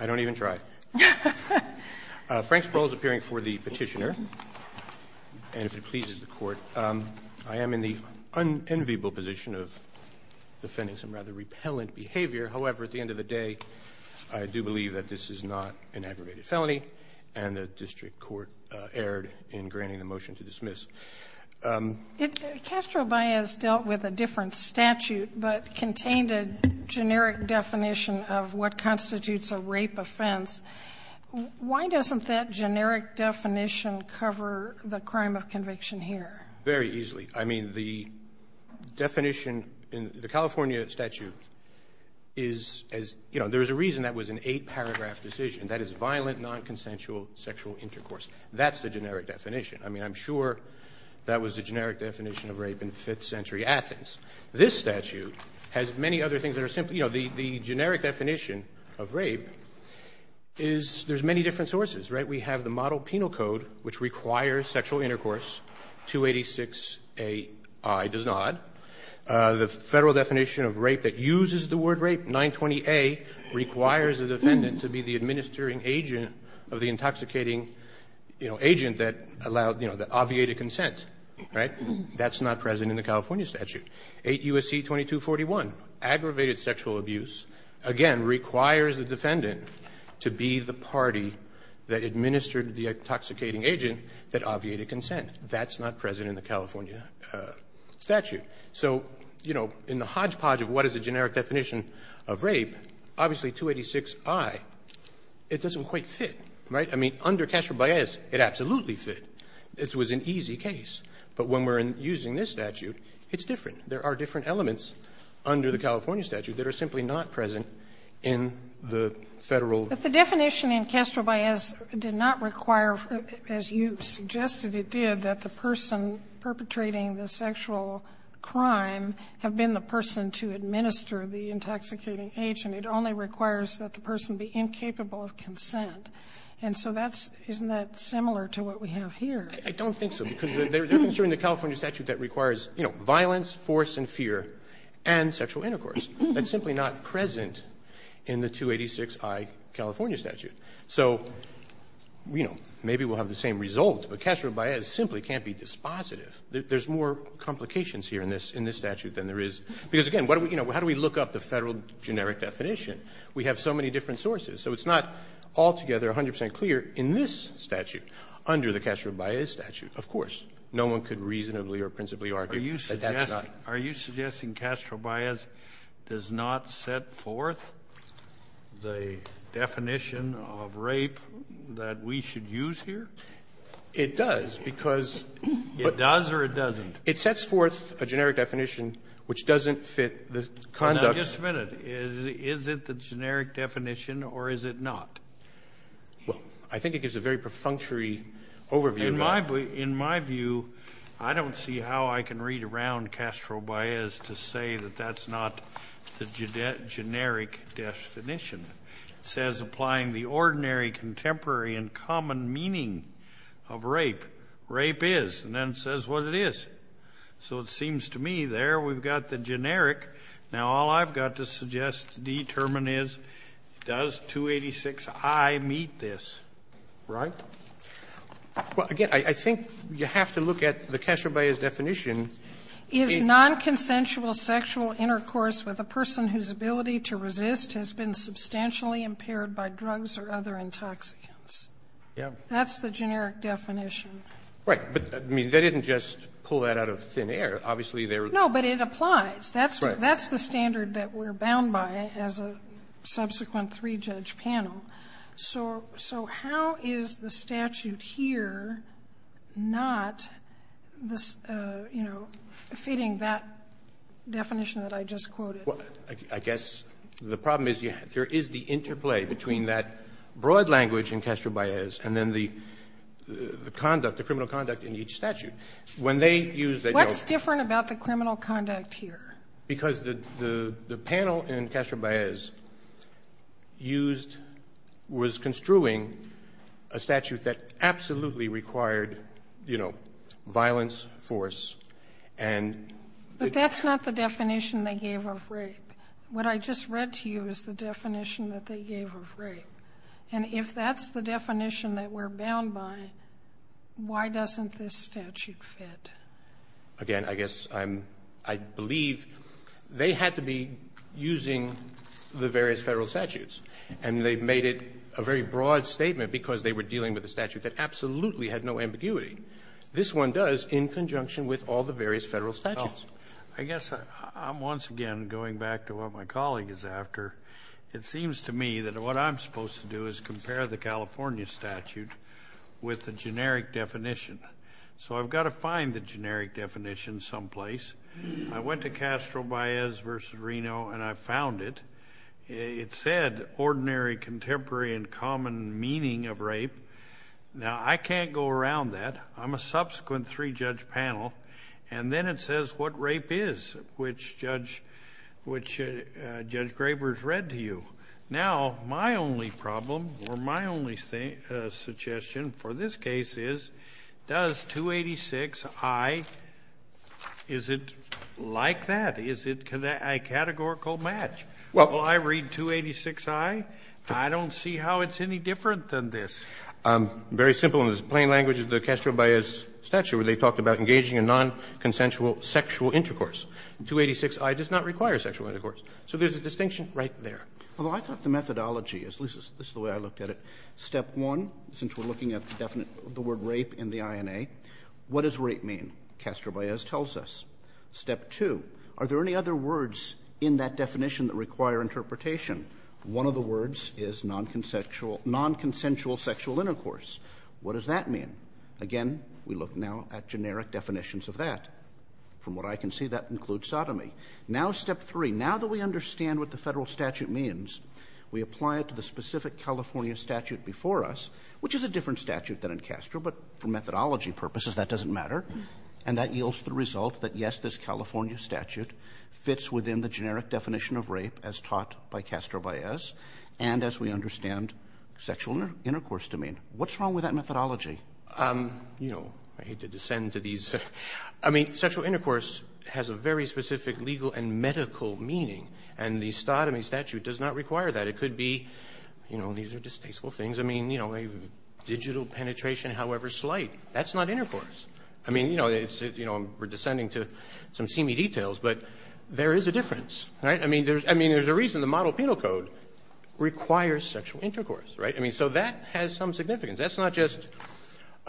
I don't even try. Frank Sproul is appearing for the petitioner, and if it pleases the Court, I am in the unenviable position of defending some rather repellent behavior. However, at the end of the day, I do believe that this is not an aggravated felony, and the district court erred in granting the motion to dismiss. Castro-Baez dealt with a different statute but contained a generic definition of what constitutes a rape offense. Why doesn't that generic definition cover the crime of conviction here? Very easily. I mean, the definition in the California statute is, as you know, there is a reason that was an eight-paragraph decision. That is violent, nonconsensual sexual intercourse. That's the generic definition. I mean, I'm sure that was the generic definition of rape in 5th century Athens. This statute has many other things that are simple. You know, the generic definition of rape is there's many different sources, right? We have the Model Penal Code, which requires sexual intercourse, 286aI does not. The Federal definition of rape that uses the word rape, 920a, requires a defendant to be the administering agent of the intoxicating, you know, agent that allowed, you know, that obviated consent, right? That's not present in the California statute. 8 U.S.C. 2241, aggravated sexual abuse, again, requires the defendant to be the party that administered the intoxicating agent that obviated consent. That's not present in the California statute. So, you know, in the hodgepodge of what is a generic definition of rape, obviously 286aI, it doesn't quite fit, right? I mean, under Castro-Baez, it absolutely fit. This was an easy case. But when we're using this statute, it's different. There are different elements under the California statute that are simply not present in the Federal ---- Sotomayor, but the definition in Castro-Baez did not require, as you suggested it did, that the person perpetrating the sexual crime have been the person to administer the intoxicating agent. It only requires that the person be incapable of consent. And so that's ---- Isn't that similar to what we have here? I don't think so, because they're administering the California statute that requires, you know, violence, force and fear, and sexual intercourse. That's simply not present in the 286i California statute. So, you know, maybe we'll have the same result, but Castro-Baez simply can't be dispositive. There's more complications here in this statute than there is. Because, again, how do we look up the Federal generic definition? We have so many different sources. So it's not altogether 100 percent clear in this statute under the Castro-Baez statute, of course. No one could reasonably or principally argue that that's not ---- Are you suggesting Castro-Baez does not set forth the definition of rape that we should use here? It does, because ---- It does or it doesn't? It sets forth a generic definition which doesn't fit the conduct ---- Now, just a minute. Is it the generic definition or is it not? Well, I think it gives a very perfunctory overview, Your Honor. In my view, I don't see how I can read around Castro-Baez to say that that's not the generic definition. It says, applying the ordinary, contemporary and common meaning of rape, rape is, and then it says what it is. So it seems to me there we've got the generic. Now, all I've got to suggest to determine is, does 286i meet this, right? Well, again, I think you have to look at the Castro-Baez definition. Is nonconsensual sexual intercourse with a person whose ability to resist has been substantially impaired by drugs or other intoxicants. Yeah. That's the generic definition. Right. But, I mean, they didn't just pull that out of thin air. Obviously, there was ---- No, but it applies. That's the standard that we're bound by as a subsequent three-judge panel. So how is the statute here not, you know, fitting that definition that I just quoted? I guess the problem is there is the interplay between that broad language in Castro-Baez and then the conduct, the criminal conduct in each statute. When they used that, you know ---- What's different about the criminal conduct here? Because the panel in Castro-Baez used, was construing a statute that absolutely required, you know, violence, force, and ---- But that's not the definition they gave of rape. What I just read to you is the definition that they gave of rape. And if that's the definition that we're bound by, why doesn't this statute fit? Again, I guess I'm ---- I believe they had to be using the various Federal statutes. And they made it a very broad statement because they were dealing with a statute that absolutely had no ambiguity. This one does in conjunction with all the various Federal statutes. I guess I'm once again going back to what my colleague is after. It seems to me that what I'm supposed to do is compare the California statute with the generic definition. So I've got to find the generic definition someplace. I went to Castro-Baez v. Reno and I found it. It said ordinary, contemporary, and common meaning of rape. Now I can't go around that. I'm a subsequent three-judge panel. And then it says what rape is, which Judge Graber's read to you. Now my only problem or my only suggestion for this case is, does 286i, is it like that? Is it a categorical match? Well, I read 286i. I don't see how it's any different than this. Very simple in the plain language of the Castro-Baez statute where they talked about engaging in nonconsensual sexual intercourse. 286i does not require sexual intercourse. So there's a distinction right there. Roberts. Although I thought the methodology, at least this is the way I looked at it, step one, since we're looking at the word rape in the INA, what does rape mean? Castro-Baez tells us. Step two, are there any other words in that definition that require interpretation? One of the words is nonconsensual sexual intercourse. What does that mean? Again, we look now at generic definitions of that. From what I can see, that includes sodomy. Now step three, now that we understand what the Federal statute means, we apply it to the specific California statute before us, which is a different statute than in Castro, but for methodology purposes, that doesn't matter. And that yields the result that, yes, this California statute fits within the generic definition of rape as taught by Castro-Baez and as we understand sexual intercourse to mean. What's wrong with that methodology? You know, I hate to descend to these. I mean, sexual intercourse has a very specific legal and medical meaning, and the sodomy statute does not require that. It could be, you know, these are distasteful things. I mean, you know, digital penetration, however slight, that's not intercourse. I mean, you know, we're descending to some seamy details, but there is a difference. Right? I mean, there's a reason the model penal code requires sexual intercourse. Right? I mean, so that has some significance. That's not just,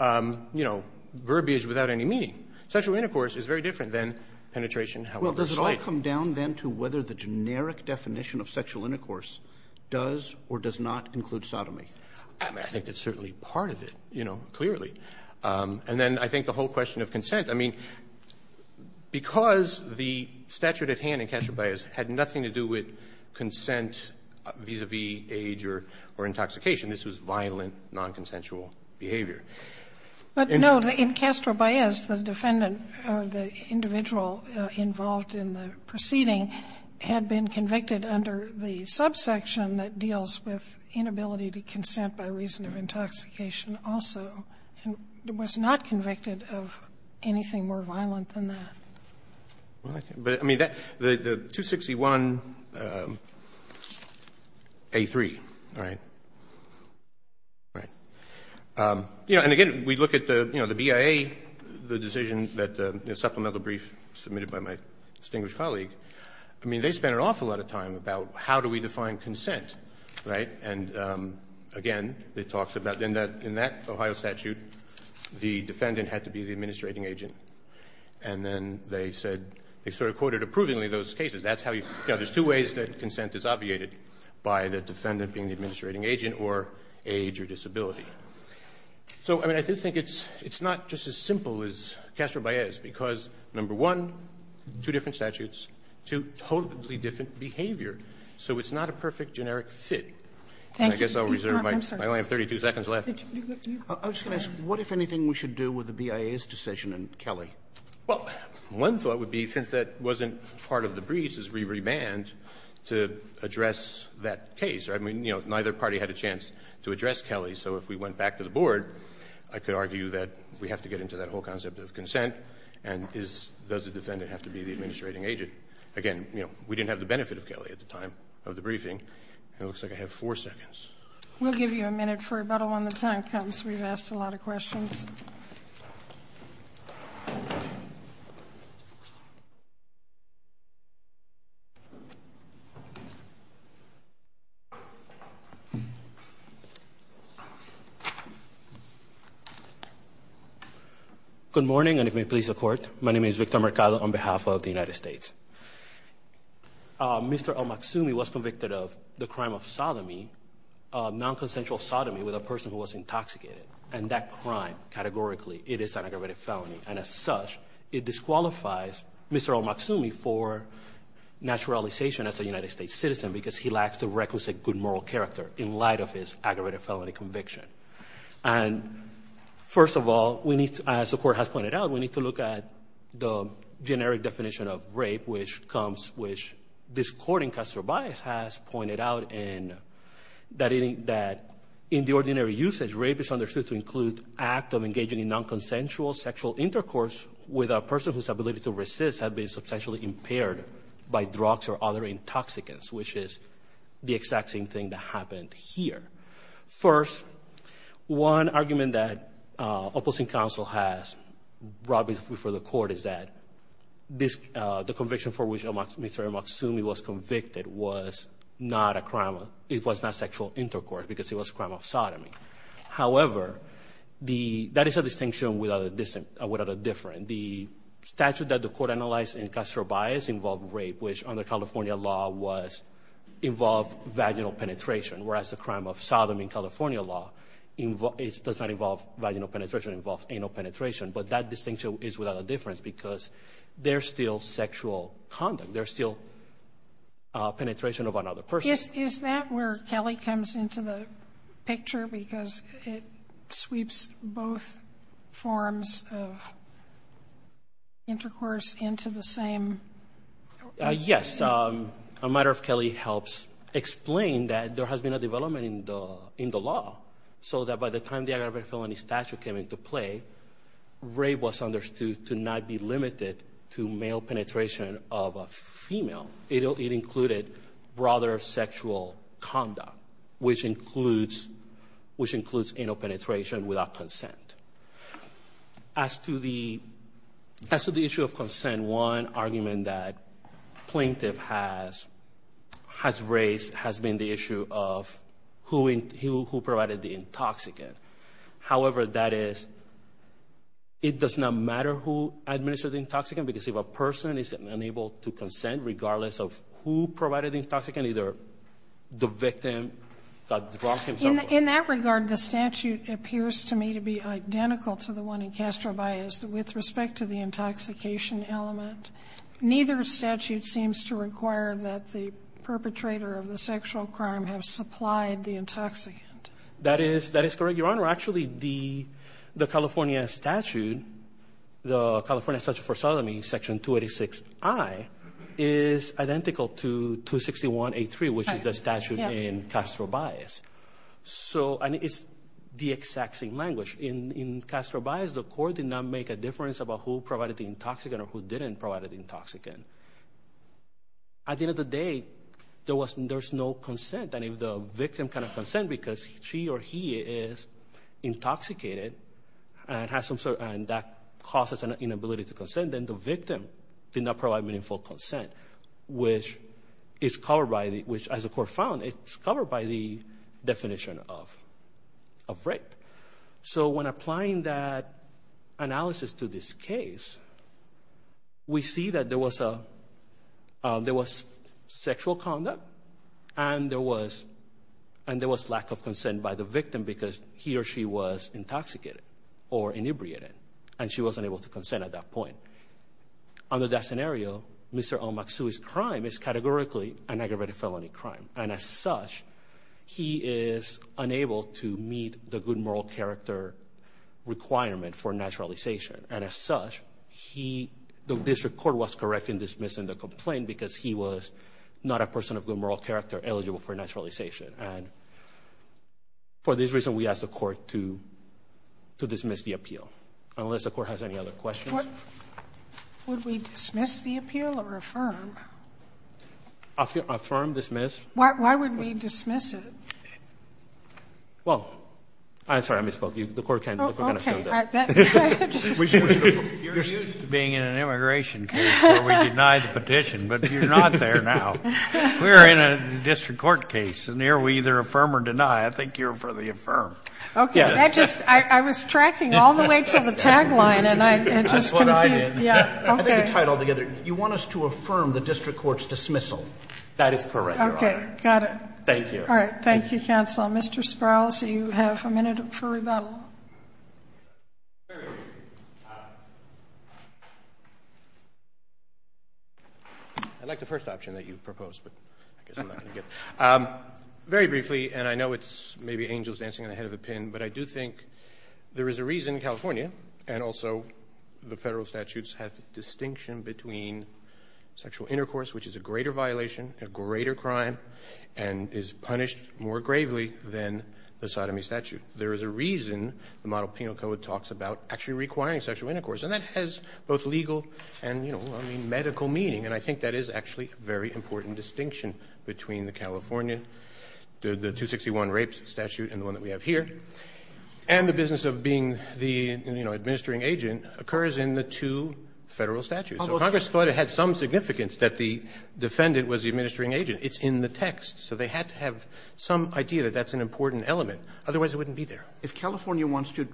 you know, verbiage without any meaning. Sexual intercourse is very different than penetration, however slight. Roberts. Well, does it all come down then to whether the generic definition of sexual intercourse does or does not include sodomy? I mean, I think that's certainly part of it, you know, clearly. And then I think the whole question of consent, I mean, because the statute at hand in Castro-Baez had nothing to do with consent vis-a-vis age or intoxication, I mean, this was violent, nonconsensual behavior. But no, in Castro-Baez, the defendant or the individual involved in the proceeding had been convicted under the subsection that deals with inability to consent by reason of intoxication also, and was not convicted of anything more violent than that. But, I mean, the 261A3, right, right, you know, and again, we look at the, you know, the BIA, the decision that the supplemental brief submitted by my distinguished colleague, I mean, they spent an awful lot of time about how do we define consent, right? And again, it talks about in that Ohio statute, the defendant had to be the administrating agent. And then they said, they sort of quoted approvingly those cases. That's how you, you know, there's two ways that consent is obviated, by the defendant being the administrating agent or age or disability. So, I mean, I do think it's not just as simple as Castro-Baez, because number one, two different statutes, two totally different behavior, so it's not a perfect generic fit. And I guess I'll reserve my, I only have 32 seconds left. Kennedy. I was going to ask, what, if anything, we should do with the BIA's decision and Kelly? Well, one thought would be, since that wasn't part of the briefs, is we remand to address that case, right? I mean, you know, neither party had a chance to address Kelly. So if we went back to the Board, I could argue that we have to get into that whole concept of consent, and is, does the defendant have to be the administrating agent? Again, you know, we didn't have the benefit of Kelly at the time of the briefing, and it looks like I have four seconds. We'll give you a minute for rebuttal when the time comes. We've asked a lot of questions. Good morning, and if you may please accord, my name is Victor Mercado on behalf of the United States. Mr. Olmaksumi was convicted of the crime of sodomy, non-consensual sodomy with a person who was intoxicated, and that crime, categorically, it is an aggravated felony, and as such, it disqualifies Mr. Olmaksumi for naturalization as a United States citizen, because he lacks the requisite good moral character in light of his aggravated felony conviction. And first of all, we need to, as the Court has pointed out, we need to look at the generic definition of rape, which comes, which this Court in Castro Bias has pointed out, and that in the ordinary usage, rape is understood to include act of engaging in non-consensual sexual intercourse with a person whose ability to resist had been substantially impaired by drugs or other intoxicants, which is the exact same thing that happened here. First, one argument that Opposing Council has brought before the Court is that the conviction for which Mr. Olmaksumi was convicted was not a crime of, it was not sexual intercourse, because it was a crime of sodomy. However, that is a distinction without a different. The statute that the Court analyzed in Castro Bias involved rape, which under sodomy in California law does not involve vaginal penetration, it involves anal penetration. But that distinction is without a difference, because there's still sexual conduct. There's still penetration of another person. Sotomayor Is that where Kelly comes into the picture, because it sweeps both forms of intercourse into the same? Yes. A matter of Kelly helps explain that there has been a development in the law, so that by the time the aggravated felony statute came into play, rape was understood to not be limited to male penetration of a female. It included broader sexual conduct, which includes anal penetration without consent. As to the issue of consent, one argument that plaintiff has raised has been the issue of who provided the intoxicant. However, that is, it does not matter who administered the intoxicant, because if a person is unable to consent, regardless of who provided the intoxicant, either the victim got drunk himself or not. In that regard, the statute appears to me to be identical to the one in Castro Bias with respect to the intoxication element. Neither statute seems to require that the perpetrator of the sexual crime have supplied the intoxicant. That is correct, Your Honor. Actually, the California statute, the California statute for sodomy, section 286I, is identical to 261A3, which is the statute in Castro Bias. So, and it's the exact same language. In Castro Bias, the court did not make a difference about who provided the intoxicant or who didn't provide the intoxicant. At the end of the day, there's no consent. And if the victim cannot consent because she or he is intoxicated and has some sort, and that causes an inability to consent, then the victim did not provide meaningful consent. Which is covered by the, which as the court found, it's covered by the definition of rape. So when applying that analysis to this case, we see that there was sexual conduct and there was lack of consent by the victim because he or she was intoxicated or inebriated, and she wasn't able to consent at that point. Under that scenario, Mr. Omaksu's crime is categorically an aggravated felony crime. And as such, he is unable to meet the good moral character requirement for naturalization. And as such, the district court was correct in dismissing the complaint because he was not a person of good moral character eligible for naturalization. And for this reason, we ask the court to dismiss the appeal. Unless the court has any other questions. Would we dismiss the appeal or affirm? Affirm, dismiss. Why would we dismiss it? Well, I'm sorry, I misspoke. The court kind of found that. Okay. You're used to being in an immigration case where we deny the petition, but you're not there now. We're in a district court case, and here we either affirm or deny. I think you're for the affirm. Okay. That just — I was tracking all the weights of the tagline, and I'm just confused. That's what I did. Okay. I think you tied it all together. You want us to affirm the district court's dismissal. That is correct, Your Honor. Okay. Got it. Thank you. All right. Thank you, counsel. Mr. Sproul, you have a minute for rebuttal. I'd like the first option that you proposed, but I guess I'm not going to get it. Very briefly, and I know it's maybe angels dancing on the head of a pin, but I do think there is a reason California and also the Federal statutes have the distinction between sexual intercourse, which is a greater violation, a greater crime, and is punished more gravely than the sodomy statute. There is a reason the model penal code talks about actually requiring sexual intercourse, and that has both legal and, you know, I mean, medical meaning. And I think that is actually a very important distinction between the California, the 261 rapes statute and the one that we have here. And the business of being the, you know, administering agent occurs in the two Federal statutes. So Congress thought it had some significance that the defendant was the administering agent. It's in the text. So they had to have some idea that that's an important element. Otherwise, it wouldn't be there. If California wants to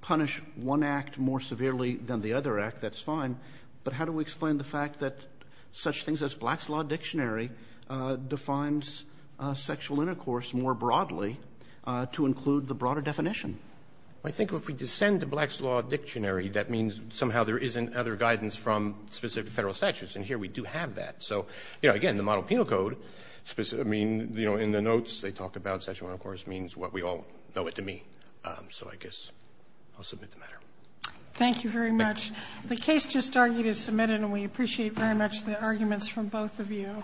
punish one act more severely than the other act, that's fine. But how do we explain the fact that such things as Black's Law Dictionary defines sexual intercourse more broadly to include the broader definition? I think if we descend to Black's Law Dictionary, that means somehow there isn't other guidance from specific Federal statutes. And here we do have that. So, you know, again, the model penal code, I mean, you know, in the notes they talk about sexual intercourse means what we all know it to mean. So I guess I'll submit the matter. Thank you very much. The case just argued is submitted, and we appreciate very much the arguments from both of you.